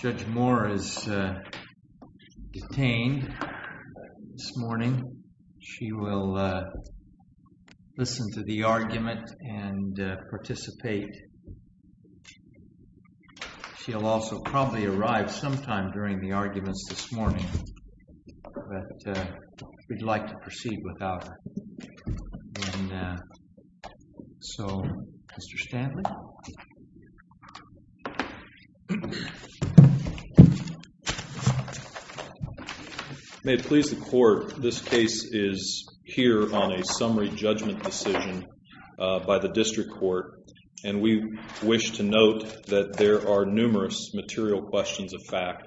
Judge Moore is detained this morning. She will listen to the argument and participate. She will also probably arrive sometime during the arguments this morning, but we'd like to proceed without her. And so, Mr. Stantley? May it please the Court, this case is here on a summary judgment decision by the district court, and we wish to note that there are numerous material questions of fact,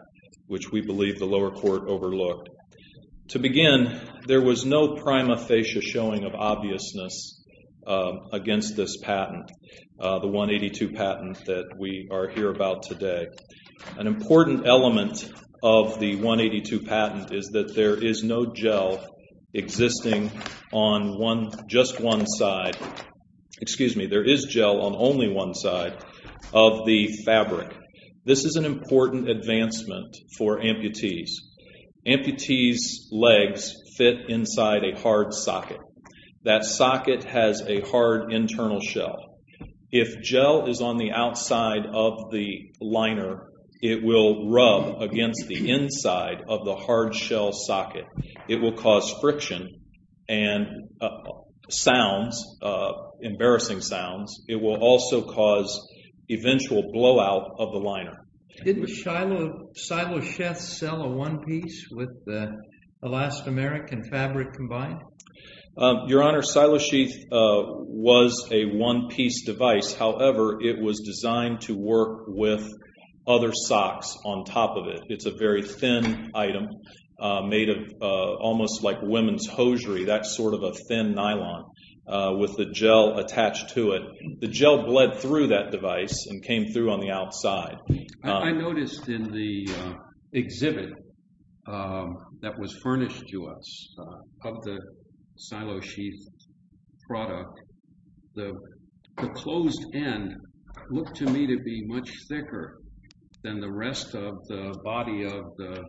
which we believe the lower court overlooked. To begin, there was no prima facie showing of obviousness against this patent, the 182 patent that we are here about today. An important element of the 182 patent is that there is no gel existing on just one side, excuse me, there is gel on only one side of the fabric. This is an important advancement for amputees. Amputees' legs fit inside a hard socket. That socket has a hard internal shell. If gel is on the outside of the liner, it will rub against the inside of the hard shell socket. It will cause friction and sounds, embarrassing sounds. It will also cause eventual blowout of the liner. Didn't silo sheath sell a one piece with the elastomeric and fabric combined? Your Honor, silo sheath was a one piece device. However, it was designed to work with other socks on top of it. It's a very thin item made of almost like women's hosiery. That's sort of a thin nylon with the gel attached to it. The gel bled through that device and came through on the outside. I noticed in the exhibit that was furnished to us of the silo sheath product, the closed end looked to me to be much thicker than the rest of the body of the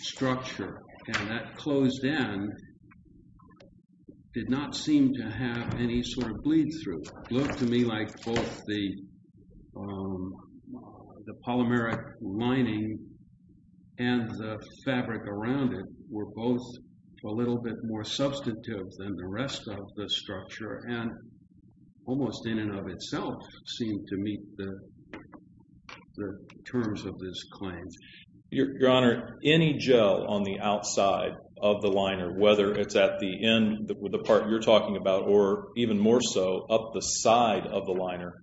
structure. That closed end did not seem to have any sort of bleed through. It looked to me like both the polymeric lining and the fabric around it were both a little bit more substantive than the rest of the structure. Almost in and of itself seemed to meet the terms of this claim. Your Honor, any gel on the outside of the liner, whether it's at the end, the part you're talking about, or even more so up the side of the liner,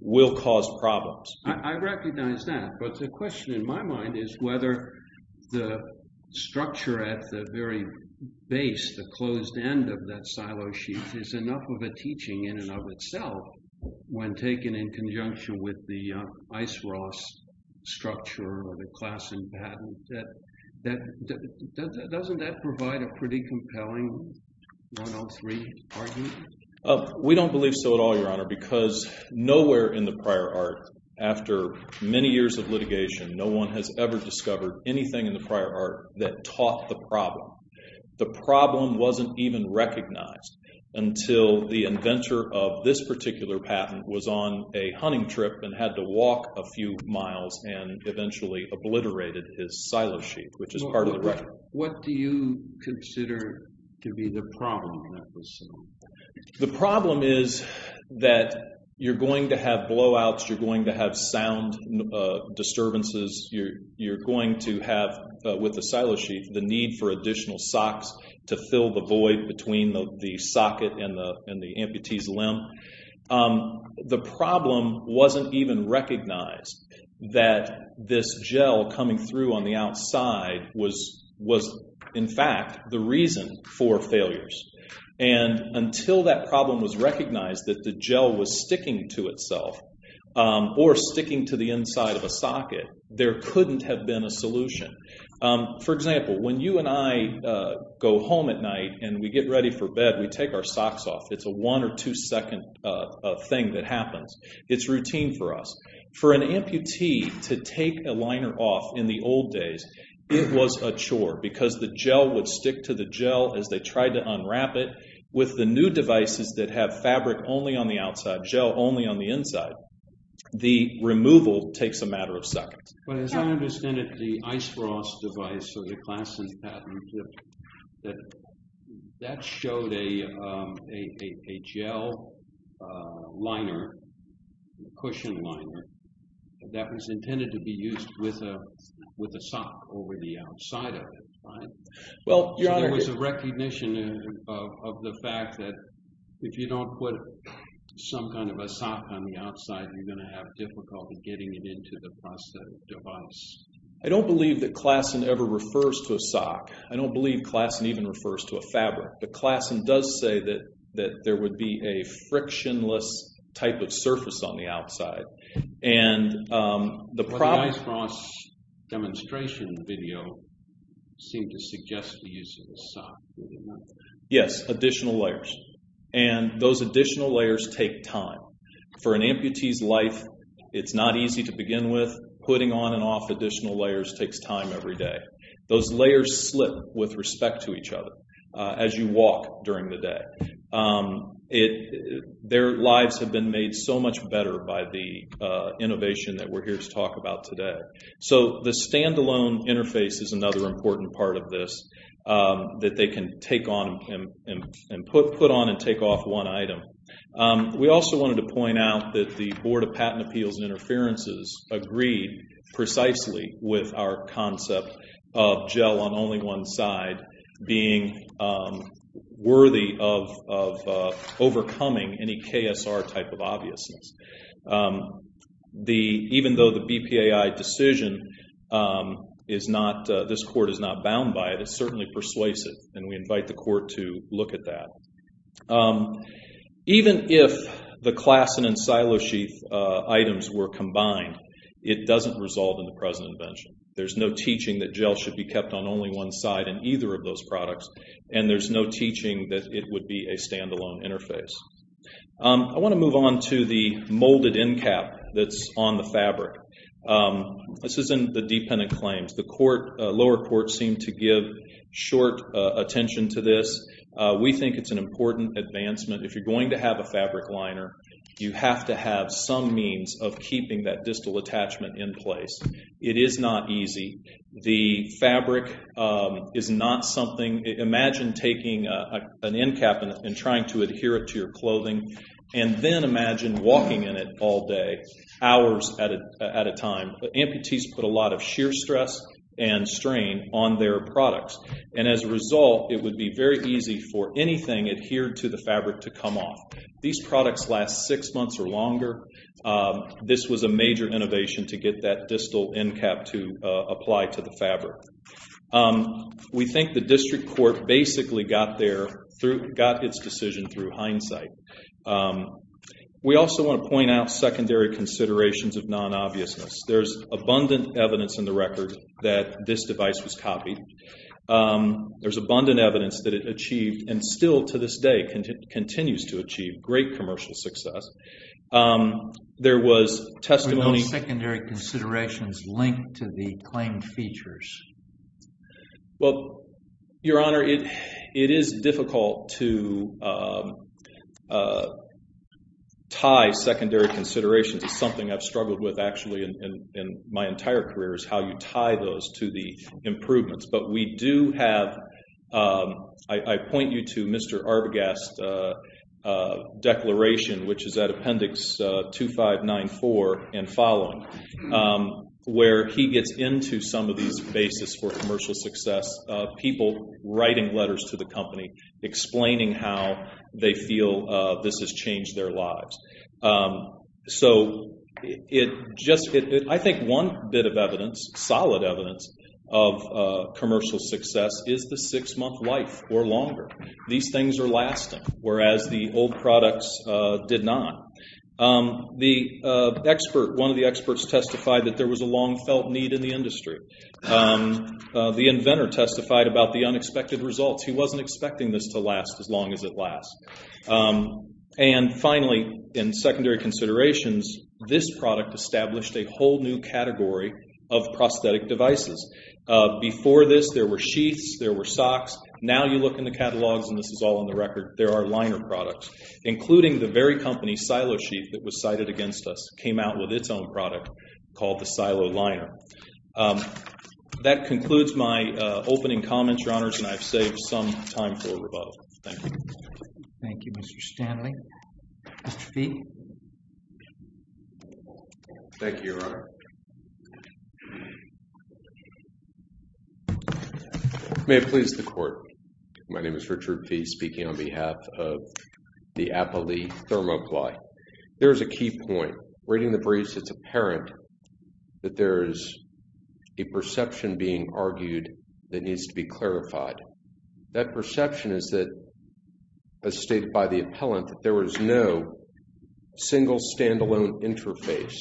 will cause problems. I recognize that, but the question in my silo sheath is enough of a teaching in and of itself when taken in conjunction with the ice-rost structure or the class and patent. Doesn't that provide a pretty compelling 103 argument? We don't believe so at all, Your Honor, because nowhere in the prior art, after many years of litigation, no one has ever discovered anything in the prior art that taught the problem. The problem wasn't even recognized until the inventor of this particular patent was on a hunting trip and had to walk a few miles and eventually obliterated his silo sheath, which is part of the record. What do you consider to be the problem? The problem is that you're going to have blowouts, you're going to have sound disturbances, you're going to have, with the silo sheath, the need for additional socks to fill the void between the socket and the amputee's limb. The problem wasn't even recognized that this gel coming through on the outside was, in fact, the reason for failures. Until that problem was recognized that the gel was sticking to itself or sticking to the inside of a socket, there couldn't have been a solution. For example, when you and I go home at night and we get ready for bed, we take our socks off. It's a one or two second thing that happens. It's routine for us. For an amputee to take a liner off in the old days, it was a chore because the gel would stick to the gel as they tried to unwrap it. With the new devices that have fabric only on the outside, gel only on the inside, the removal takes a matter of seconds. As I understand it, the ice frost device or the Klasson patent that showed a gel liner, a cushion liner, that was intended to be used with a sock over the outside of it, right? There was a recognition of the fact that if you don't put some kind of a sock on the outside, you're going to have difficulty getting it into the prosthetic device. I don't believe that Klasson ever refers to a sock. I don't believe Klasson even refers to a fabric, but Klasson does say that there would be a frictionless type of surface on the outside. The ice frost demonstration video seemed to suggest the use of a sock. Yes, additional layers. Those additional layers take time. For an amputee's life, it's not easy to begin with. Putting on and off additional layers takes time every day. Those layers slip with respect to each other as you walk during the day. Their lives have been made so much better by the innovation that we're here to talk about today. The standalone interface is another important part of this that they can take on and put on and take off one item. We also wanted to point out that the Board of Patent Appeals and Interferences agreed precisely with our concept of gel on only one side being worthy of overcoming any KSR type of obviousness. Even though the BPAI decision, this court is not bound by it, it's certainly persuasive, and we invite the court to look at that. Even if the Klassen and Silosheath items were combined, it doesn't resolve in the present invention. There's no teaching that gel should be kept on only one side in either of those products, and there's no teaching that it would be a standalone interface. I want to move on to the molded end cap that's on the fabric. This is in the dependent claims. The lower court seemed to give short attention to this. We think it's an important advancement. If you're going to have a fabric liner, you have to have some means of keeping that distal attachment in place. It is not easy. The fabric is not something...imagine taking an end cap and trying to adhere it to your clothing, and then imagine walking in it all day, hours at a time. Amputees put a lot of sheer stress and strain on their products, and as a result, it would be very easy for anything adhered to the fabric to come off. These products last six months or longer. This was a major innovation to get that distal end cap to apply to the fabric. We think the district court basically got its decision through hindsight. We also want to point out secondary considerations of non-obviousness. There's abundant evidence in the record that this device was copied. There's abundant evidence that it achieved and still to this day continues to achieve great commercial success. There was testimony... Were those secondary considerations linked to the claimed features? Well, Your Honor, it is difficult to tie secondary considerations. It's something I've struggled with actually in my entire career is how you tie those to the improvements. But we do have... I point you to Mr. Arbogast's declaration, which is at appendix 2594 and following, where he gets into some of these bases for commercial success, people writing letters to the company explaining how they feel this has changed their lives. So I think one bit of evidence, solid evidence, of commercial success is the six-month life or longer. These things are lasting, whereas the old products did not. One of the experts testified that there was a long-felt need in the industry. The inventor testified about the unexpected results. He wasn't expecting this to last as long as it lasts. And finally, in secondary considerations, this product established a whole new category of prosthetic devices. Before this, there were sheaths, there were socks. Now you look in the catalogs, and this is all on the record, there are liner products, including the very company, Silo Sheath, that was cited against us, came out with its own product called the Silo Liner. That concludes my opening comments, Your Honors, and I've saved some time for rebuttal. Thank you. Thank you, Mr. Stanley. Mr. Fee? Thank you, Your Honor. May it please the Court, my name is Richard Fee, speaking on behalf of the Applee Thermocly. There is a key point. Reading the briefs, it's apparent that there is a perception being argued that needs to be clarified. That perception is that, as stated by the appellant, that there was no single, standalone interface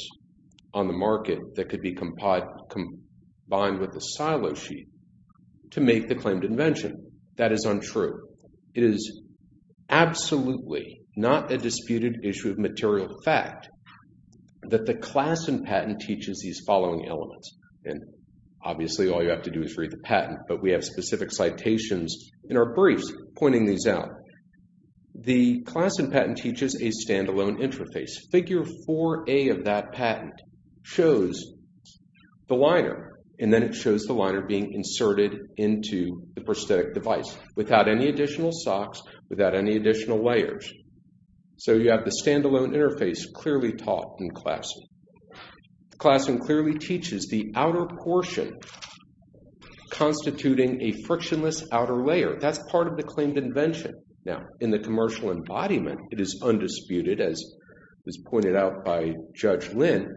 on the market that could be combined with a Silo Sheath to make the claimed invention. That is untrue. However, it is absolutely not a disputed issue of material fact that the class in patent teaches these following elements. Obviously, all you have to do is read the patent, but we have specific citations in our briefs pointing these out. The class in patent teaches a standalone interface. Figure 4A of that patent shows the liner, and then it shows the liner being inserted into the prosthetic device without any additional socks, without any additional layers. So, you have the standalone interface clearly taught in class. The class in clearly teaches the outer portion, constituting a frictionless outer layer. That's part of the claimed invention. Now, in the commercial embodiment, it is undisputed, as was pointed out by Judge Lynn,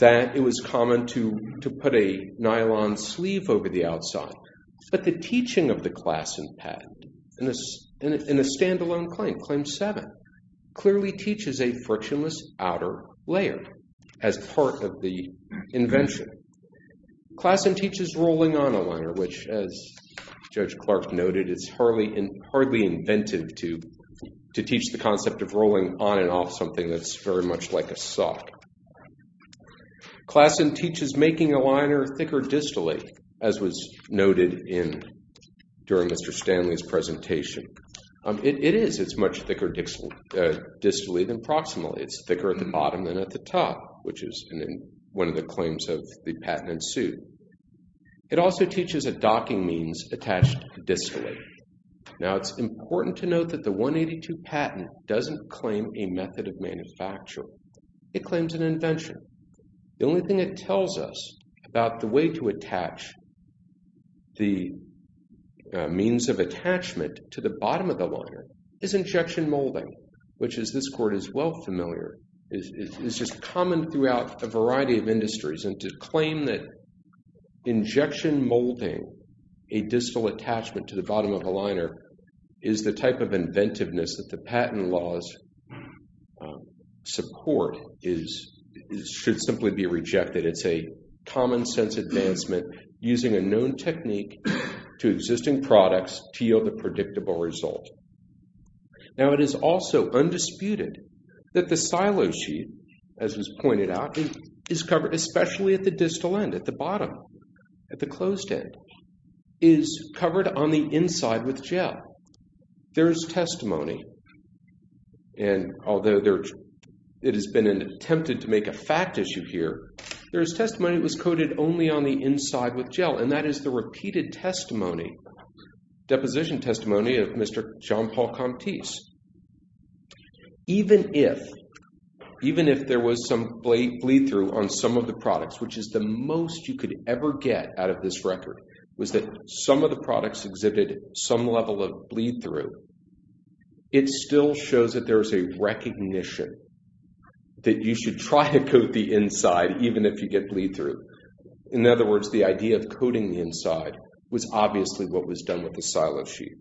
that it was common to put a nylon sleeve over the outside. But the teaching of the class in patent in a standalone claim, Claim 7, clearly teaches a frictionless outer layer as part of the invention. Class in teaches rolling on a liner, which, as Judge Clark noted, is hardly inventive to teach the concept of rolling on and off something that's very much like a sock. Class in teaches making a liner thicker distally, as was noted during Mr. Stanley's presentation. It is. It's much thicker distally than proximally. It's thicker at the bottom than at the top, which is one of the claims of the patent in suit. It also teaches a docking means attached distally. Now, it's important to note that the 182 patent doesn't claim a method of manufacture. It claims an invention. The only thing it tells us about the way to attach the means of attachment to the bottom of the liner is injection molding, which, as this court is well familiar, is just common throughout a variety of industries. And to claim that injection molding, a distal attachment to the bottom of a liner, is the type of inventiveness that the patent laws support should simply be rejected. It's a common sense advancement using a known technique to existing products to yield a predictable result. Now, it is also undisputed that the silo sheet, as was pointed out, is covered, especially at the distal end, at the bottom, at the closed end, is covered on the inside with gel. There is testimony, and although it has been attempted to make a fact issue here, there is testimony it was coated only on the inside with gel, and that is the repeated testimony, deposition testimony of Mr. John Paul Comptis. Even if there was some bleed through on some of the products, which is the most you could ever get out of this record, was that some of the products exhibited some level of bleed through, it still shows that there is a recognition that you should try to coat the inside even if you get bleed through. In other words, the idea of coating the inside was obviously what was done with the silo sheet.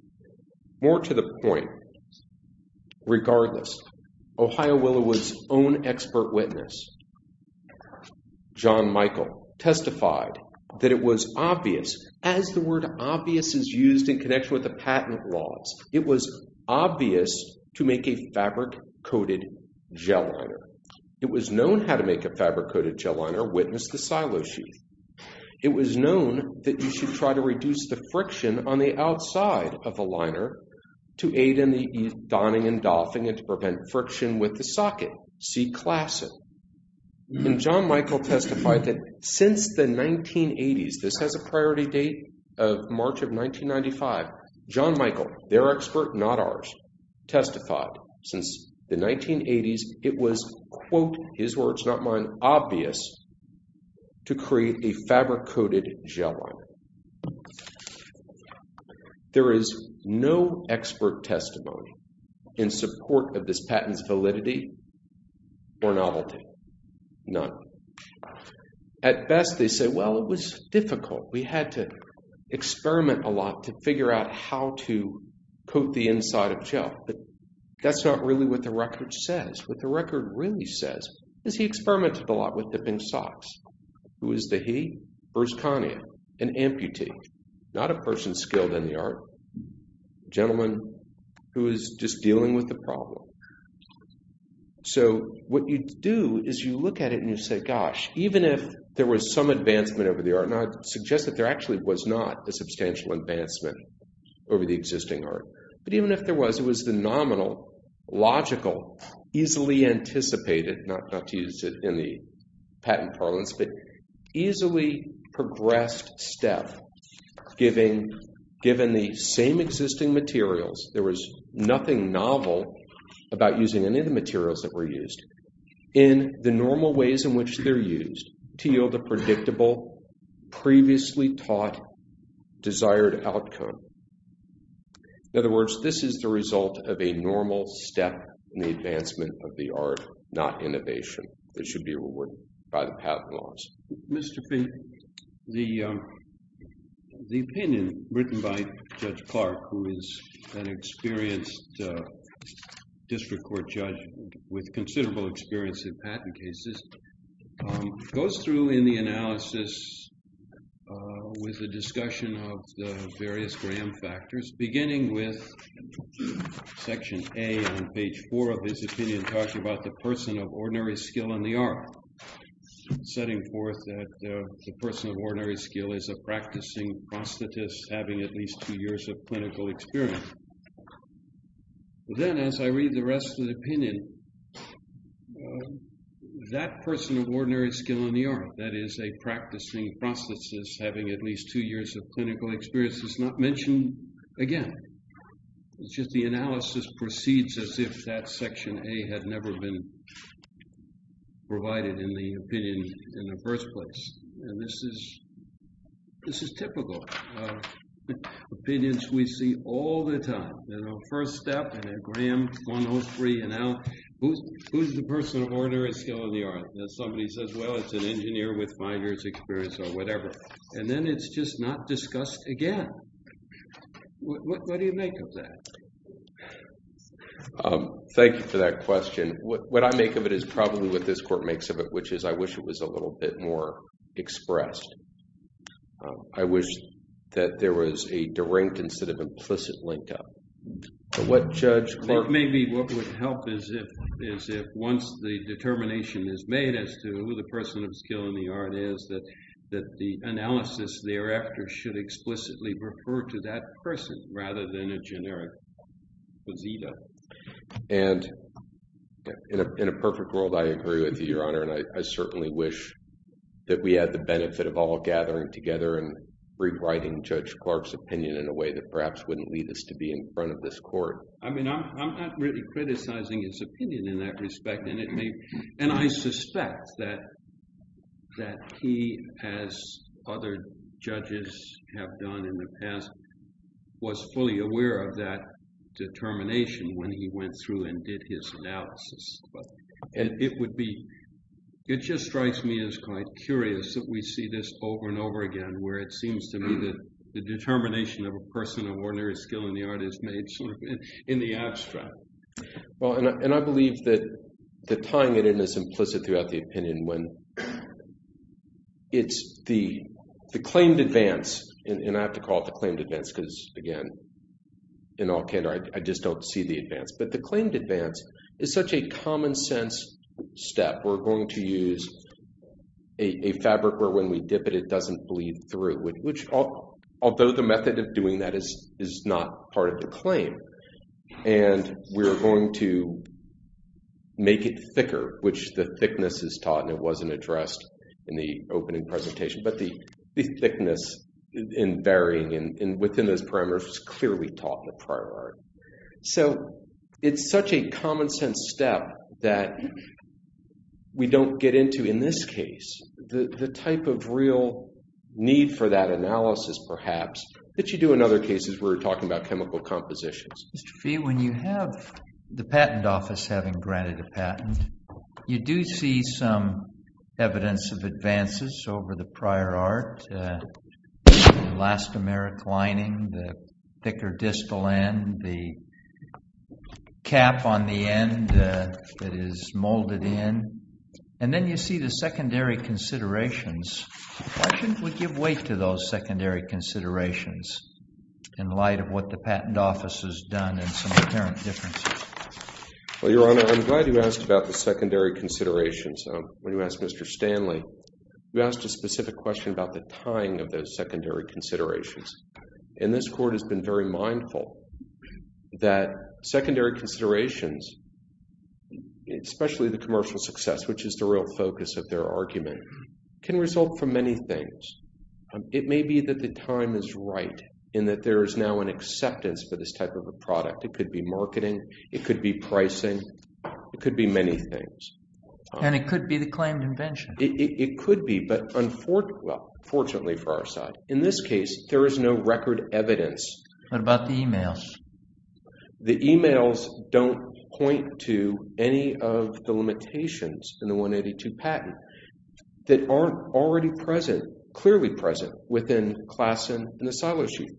More to the point, regardless, Ohio Willowood's own expert witness, John Michael, testified that it was obvious, as the word obvious is used in connection with the patent laws, it was obvious to make a fabric coated gel liner. It was known how to make a fabric coated gel liner, witness the silo sheet. It was known that you should try to reduce the friction on the outside of the liner to aid in the donning and doffing and to prevent friction with the socket. See classic. And John Michael testified that since the 1980s, this has a priority date of March of 1995, John Michael, their expert, not ours, testified since the 1980s, it was quote, his words, not mine, obvious to create a fabric coated gel liner. There is no expert testimony in support of this patent's validity or novelty. None. At best, they say, well, it was difficult. We had to experiment a lot to figure out how to coat the inside of gel. But that's not really what the record says. What the record really says is he experimented a lot with dipping socks. Who is the he? Urs Kanyan, an amputee, not a person skilled in the art, a gentleman who is just dealing with the problem. So what you do is you look at it and you say, gosh, even if there was some advancement over the art, and I suggest that there actually was not a substantial advancement over the existing art, but even if there was, it was the nominal, logical, easily anticipated, not to use it in the patent parlance, but easily progressed step, given the same existing materials, there was nothing novel about using any of the materials that were used, in the normal ways in which they're used, to yield a predictable, previously taught, desired outcome. In other words, this is the result of a normal step in the advancement of the art, not innovation. It should be rewarded by the patent laws. Mr. Fee, the opinion written by Judge Clark, who is an experienced district court judge with considerable experience in patent cases, goes through in the analysis with a discussion of the various gram factors, beginning with section A on page 4 of his opinion, talking about the person of ordinary skill in the art, setting forth that the person of ordinary skill is a practicing prosthetist, having at least two years of clinical experience. Then, as I read the rest of the opinion, that person of ordinary skill in the art, that is a practicing prosthetist, having at least two years of clinical experience, is not mentioned again. It's just the analysis proceeds as if that section A had never been provided in the opinion in the first place. And this is typical. Opinions we see all the time. First step, and then gram 103, and now who's the person of ordinary skill in the art? Somebody says, well, it's an engineer with five years' experience, or whatever. And then it's just not discussed again. What do you make of that? Thank you for that question. What I make of it is probably what this court makes of it, which is I wish it was a little bit more expressed. I wish that there was a direct instead of implicit link-up. But what Judge Clark- Maybe what would help is if once the determination is made as to who the person of skill in the art is, that the analysis thereafter should explicitly refer to that person rather than a generic posita. And in a perfect world, I agree with you, Your Honor. And I certainly wish that we had the benefit of all gathering together and rewriting Judge Clark's opinion in a way that perhaps wouldn't lead us to be in front of this court. I mean, I'm not really criticizing his opinion in that respect. And I suspect that he, as other judges have done in the past, was fully aware of that determination when he went through and did his analysis. It just strikes me as quite curious that we see this over and over again, where it seems to me that the determination of a person of ordinary skill in the art is made in the abstract. Well, and I believe that tying it in is implicit throughout the opinion when it's the claimed advance, and I have to call it the claimed advance because, again, in all candor, I just don't see the advance. But the claimed advance is such a common-sense step. We're going to use a fabric where when we dip it, it doesn't bleed through, although the method of doing that is not part of the claim. And we're going to make it thicker, which the thickness is taught, and it wasn't addressed in the opening presentation. But the thickness and varying within those parameters is clearly taught in the prior art. So it's such a common-sense step that we don't get into, in this case, the type of real need for that analysis, perhaps, that you do in other cases where we're talking about chemical compositions. Mr. Fee, when you have the patent office having granted a patent, you do see some evidence of advances over the prior art, the elastomeric lining, the thicker distal end, the cap on the end that is molded in, and then you see the secondary considerations. Why shouldn't we give weight to those secondary considerations in light of what the patent office has done and some apparent differences? Well, Your Honor, I'm glad you asked about the secondary considerations. When you asked Mr. Stanley, you asked a specific question about the tying of those secondary considerations. And this Court has been very mindful that secondary considerations, especially the commercial success, which is the real focus of their argument, can result from many things. It may be that the time is right in that there is now an acceptance for this type of a product. It could be marketing, it could be pricing, it could be many things. And it could be the claimed invention. It could be, but unfortunately for our side, in this case, there is no record evidence. What about the emails? The emails don't point to any of the limitations in the 182 patent that aren't already present, clearly present, within Classen and the silo sheet.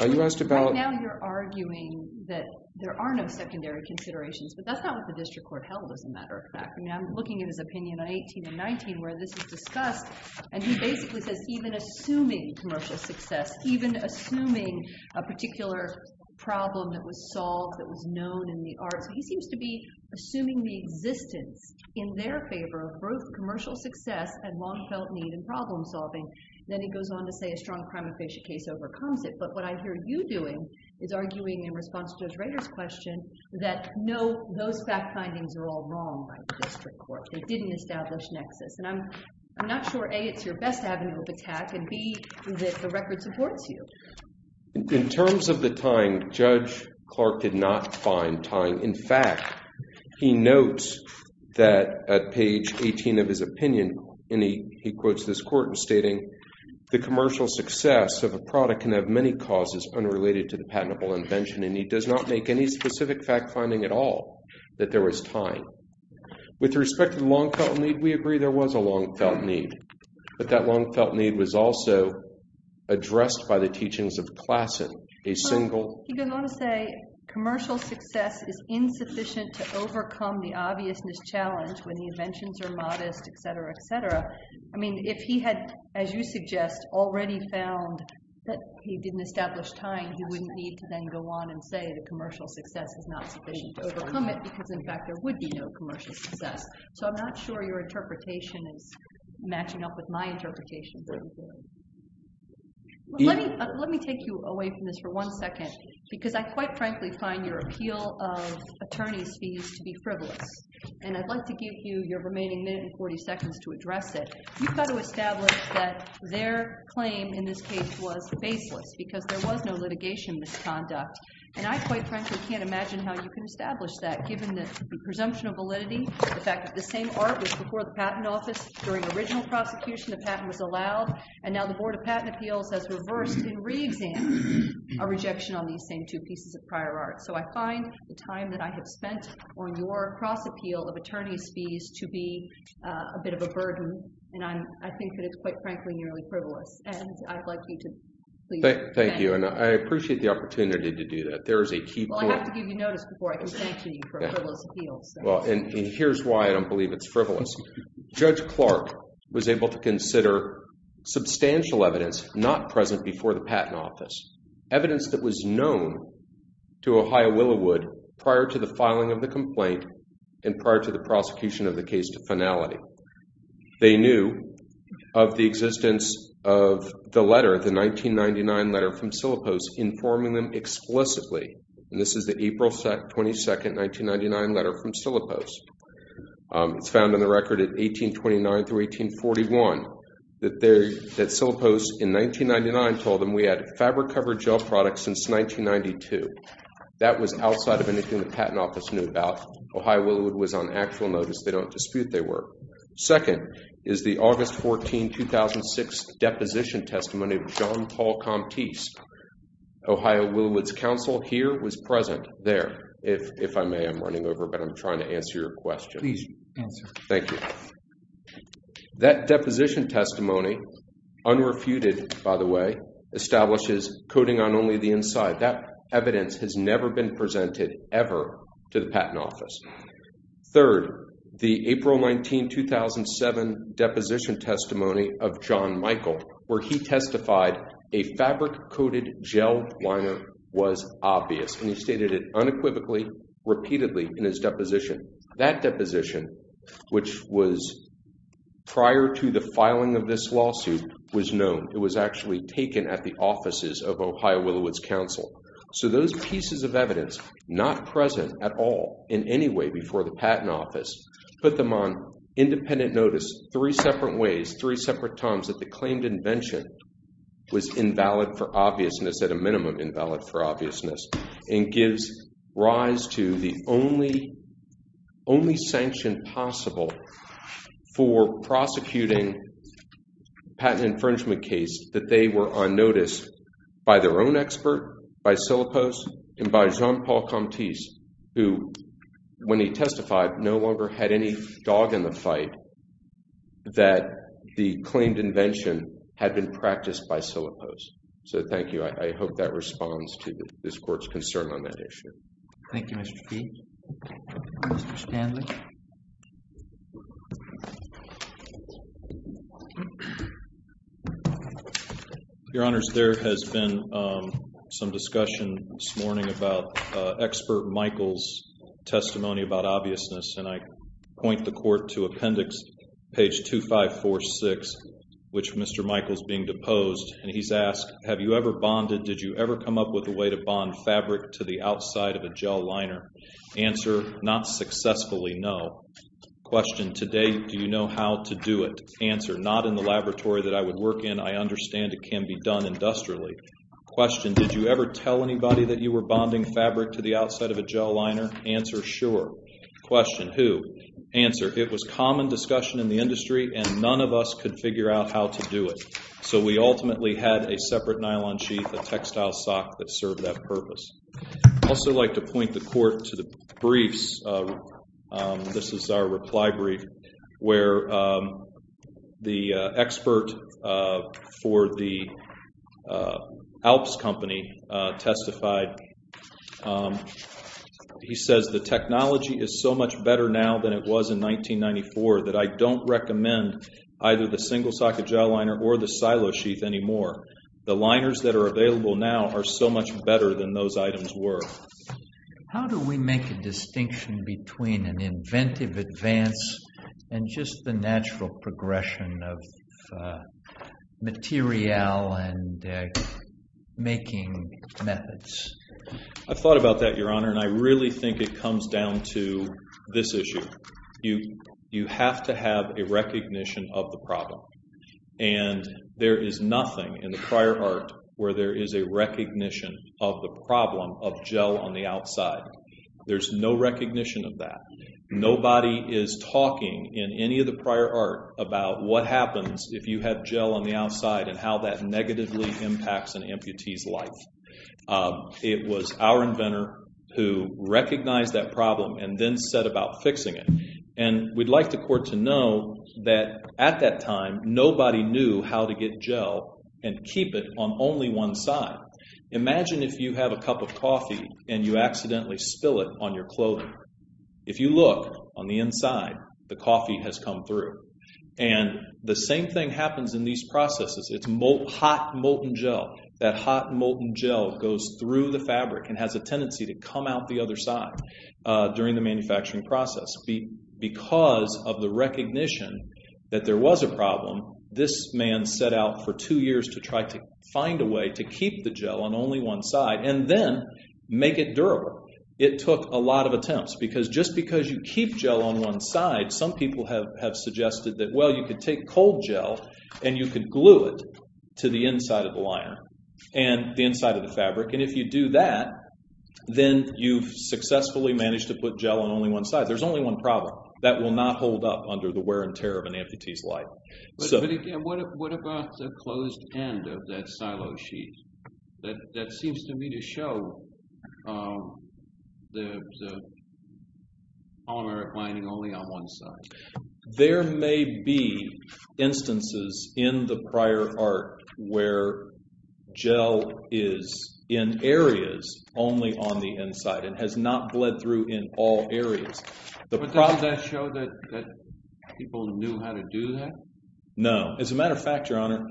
You asked about... Right now you're arguing that there are no secondary considerations, but that's not what the District Court held as a matter of fact. I mean, I'm looking at his opinion on 18 and 19 where this is discussed, and he basically says even assuming commercial success, even assuming a particular problem that was solved, that was known in the arts, he seems to be assuming the existence in their favor of both commercial success and long-felt need in problem solving. Then he goes on to say a strong crime efficient case overcomes it. But what I hear you doing is arguing in response to Judge Rader's question that no, those fact findings are all wrong by the District Court. They didn't establish nexus. And I'm not sure, A, it's your best avenue of attack, and, B, that the record supports you. In terms of the tying, Judge Clark did not find tying. In fact, he notes that at page 18 of his opinion, and he quotes this court in stating, the commercial success of a product can have many causes unrelated to the patentable invention, and he does not make any specific fact finding at all that there was tying. With respect to the long-felt need, we agree there was a long-felt need, but that long-felt need was also addressed by the teachings of Klassen, a single- He goes on to say commercial success is insufficient to overcome the obviousness challenge when the inventions are modest, et cetera, et cetera. I mean, if he had, as you suggest, already found that he didn't establish tying, he wouldn't need to then go on and say that commercial success is not sufficient to overcome it because, in fact, there would be no commercial success. So I'm not sure your interpretation is matching up with my interpretation. Let me take you away from this for one second because I quite frankly find your appeal of attorney's fees to be frivolous, and I'd like to give you your remaining minute and 40 seconds to address it. You've got to establish that their claim in this case was baseless because there was no litigation misconduct, and I quite frankly can't imagine how you can establish that given the presumption of validity, the fact that the same art was before the patent office during original prosecution, the patent was allowed, and now the Board of Patent Appeals has reversed and reexamined our rejection on these same two pieces of prior art. So I find the time that I have spent on your cross-appeal of attorney's fees to be a bit of a burden, and I think that it's quite frankly nearly frivolous, and I'd like you to please- Thank you, and I appreciate the opportunity to do that. There is a key point- Well, and here's why I don't believe it's frivolous. Judge Clark was able to consider substantial evidence not present before the patent office, evidence that was known to Ohio Willowood prior to the filing of the complaint and prior to the prosecution of the case to finality. They knew of the existence of the letter, the 1999 letter from Sillipost informing them explicitly, and this is the April 22, 1999 letter from Sillipost. It's found in the record at 1829 through 1841 that Sillipost in 1999 told them we had fabric-covered gel products since 1992. That was outside of anything the patent office knew about. Ohio Willowood was on actual notice. They don't dispute they were. Second is the August 14, 2006 deposition testimony of John Paul Comptese, Ohio Willowood's counsel here was present there. If I may, I'm running over, but I'm trying to answer your question. Please answer. Thank you. That deposition testimony, unrefuted by the way, establishes coding on only the inside. That evidence has never been presented ever to the patent office. Third, the April 19, 2007 deposition testimony of John Michael where he testified a fabric-coated gel liner was obvious, and he stated it unequivocally, repeatedly in his deposition. That deposition, which was prior to the filing of this lawsuit, was known. It was actually taken at the offices of Ohio Willowood's counsel. So those pieces of evidence, not present at all in any way before the patent office, put them on independent notice three separate ways, three separate times, that the claimed invention was invalid for obviousness, at a minimum invalid for obviousness, and gives rise to the only sanction possible for prosecuting a patent infringement case that they were on notice by their own expert, by Syllopos, and by John Paul Comptese, who when he testified no longer had any dog in the fight that the claimed invention had been practiced by Syllopos. So thank you. I hope that responds to this Court's concern on that issue. Thank you, Mr. Peat. Mr. Stanley. Your Honors, there has been some discussion this morning about Expert Michael's testimony about obviousness, and I point the Court to appendix page 2546, which Mr. Michael is being deposed, and he's asked, Have you ever bonded, did you ever come up with a way to bond fabric to the outside of a gel liner? Answer, not successfully, no. Question, today do you know how to do it? Answer, not in the laboratory that I would work in. I understand it can be done industrially. Question, did you ever tell anybody that you were bonding fabric to the outside of a gel liner? Answer, sure. Question, who? Answer, it was common discussion in the industry and none of us could figure out how to do it. So we ultimately had a separate nylon sheath, a textile sock, that served that purpose. I'd also like to point the Court to the briefs. This is our reply brief where the expert for the Alps company testified. He says, The technology is so much better now than it was in 1994 that I don't recommend either the single-socket gel liner or the silo sheath anymore. The liners that are available now are so much better than those items were. How do we make a distinction between an inventive advance and just the natural progression of materiel and making methods? I've thought about that, Your Honor, and I really think it comes down to this issue. You have to have a recognition of the problem, and there is nothing in the prior art where there is a recognition of the problem of gel on the outside. There's no recognition of that. Nobody is talking in any of the prior art about what happens if you have gel on the outside and how that negatively impacts an amputee's life. It was our inventor who recognized that problem and then set about fixing it. And we'd like the Court to know that at that time, nobody knew how to get gel and keep it on only one side. Imagine if you have a cup of coffee and you accidentally spill it on your clothing. If you look on the inside, the coffee has come through. And the same thing happens in these processes. It's hot, molten gel. That hot, molten gel goes through the fabric and has a tendency to come out the other side during the manufacturing process. Because of the recognition that there was a problem, this man set out for two years to try to find a way to keep the gel on only one side and then make it durable. It took a lot of attempts, because just because you keep gel on one side, some people have suggested that, well, you could take cold gel and you could glue it to the inside of the liner and the inside of the fabric. And if you do that, then you've successfully managed to put gel on only one side. There's only one problem. That will not hold up under the wear and tear of an amputee's life. But again, what about the closed end of that silo sheet? That seems to me to show the polymeric lining only on one side. There may be instances in the prior art where gel is in areas only on the inside and has not bled through in all areas. But doesn't that show that people knew how to do that? No. As a matter of fact, Your Honor,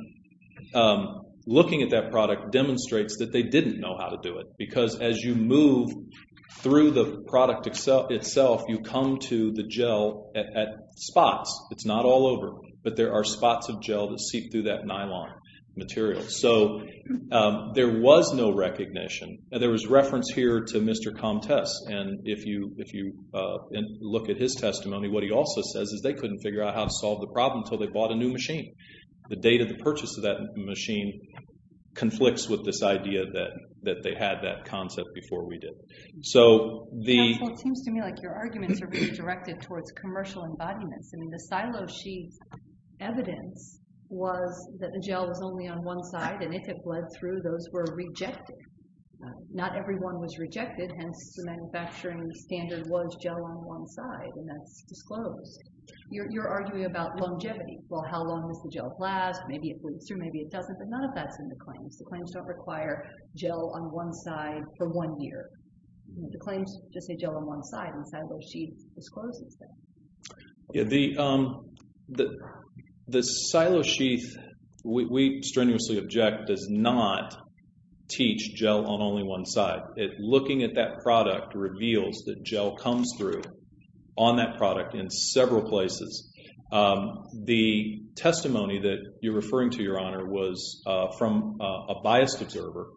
looking at that product demonstrates that they didn't know how to do it, because as you move through the product itself, you come to the gel at spots. It's not all over, but there are spots of gel that seep through that nylon material. So there was no recognition. There was reference here to Mr. Comtesse, and if you look at his testimony, what he also says is they couldn't figure out how to solve the problem until they bought a new machine. The date of the purchase of that machine conflicts with this idea that they had that concept before we did. So the... Counsel, it seems to me like your arguments are being directed towards commercial embodiments. I mean, the silo sheet's evidence was that the gel was only on one side, and if it bled through, those were rejected. Not every one was rejected, hence the manufacturing standard was gel on one side, and that's disclosed. You're arguing about longevity. Well, how long does the gel last? Maybe it bleeds through, maybe it doesn't, but none of that's in the claims. The claims don't require gel on one side for one year. The claims just say gel on one side, and silo sheet discloses that. The silo sheet, we strenuously object, does not teach gel on only one side. Looking at that product reveals that gel comes through on that product in several places. The testimony that you're referring to, Your Honor, was from a biased observer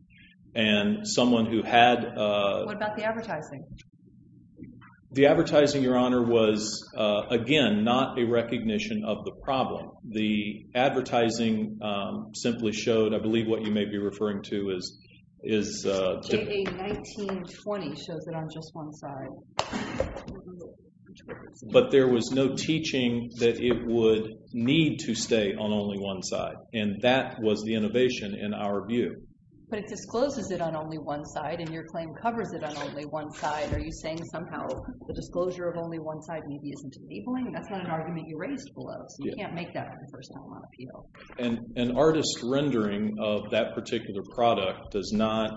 and someone who had... What about the advertising? The advertising, Your Honor, was, again, not a recognition of the problem. The advertising simply showed, I believe what you may be referring to is... JA 1920 shows it on just one side. But there was no teaching that it would need to stay on only one side, and that was the innovation, in our view. But it discloses it on only one side, and your claim covers it on only one side. Are you saying somehow the disclosure of only one side maybe isn't enabling? That's not an argument you raised below, so you can't make that on the first time on appeal. An artist's rendering of that particular product does not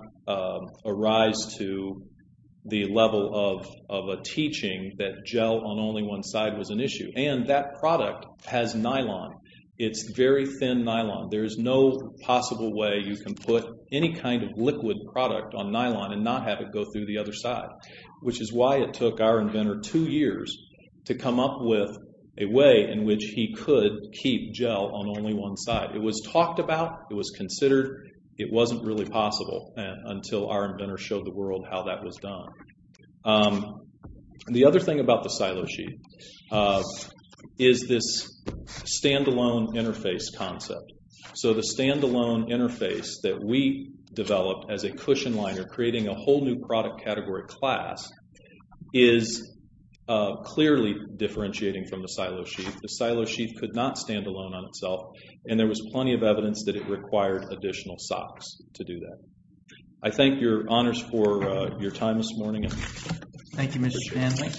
arise to the level of a teaching that gel on only one side was an issue. And that product has nylon. It's very thin nylon. There is no possible way you can put any kind of liquid product on nylon and not have it go through the other side, which is why it took our inventor two years to come up with a way in which he could keep gel on only one side. It was talked about. It was considered. It wasn't really possible until our inventor showed the world how that was done. The other thing about the silo sheet is this stand-alone interface concept. So the stand-alone interface that we developed as a cushion liner creating a whole new product category class is clearly differentiating from the silo sheet. The silo sheet could not stand alone on itself, and there was plenty of evidence that it required additional socks to do that. I thank your honors for your time this morning. Thank you, Mr. Stanley.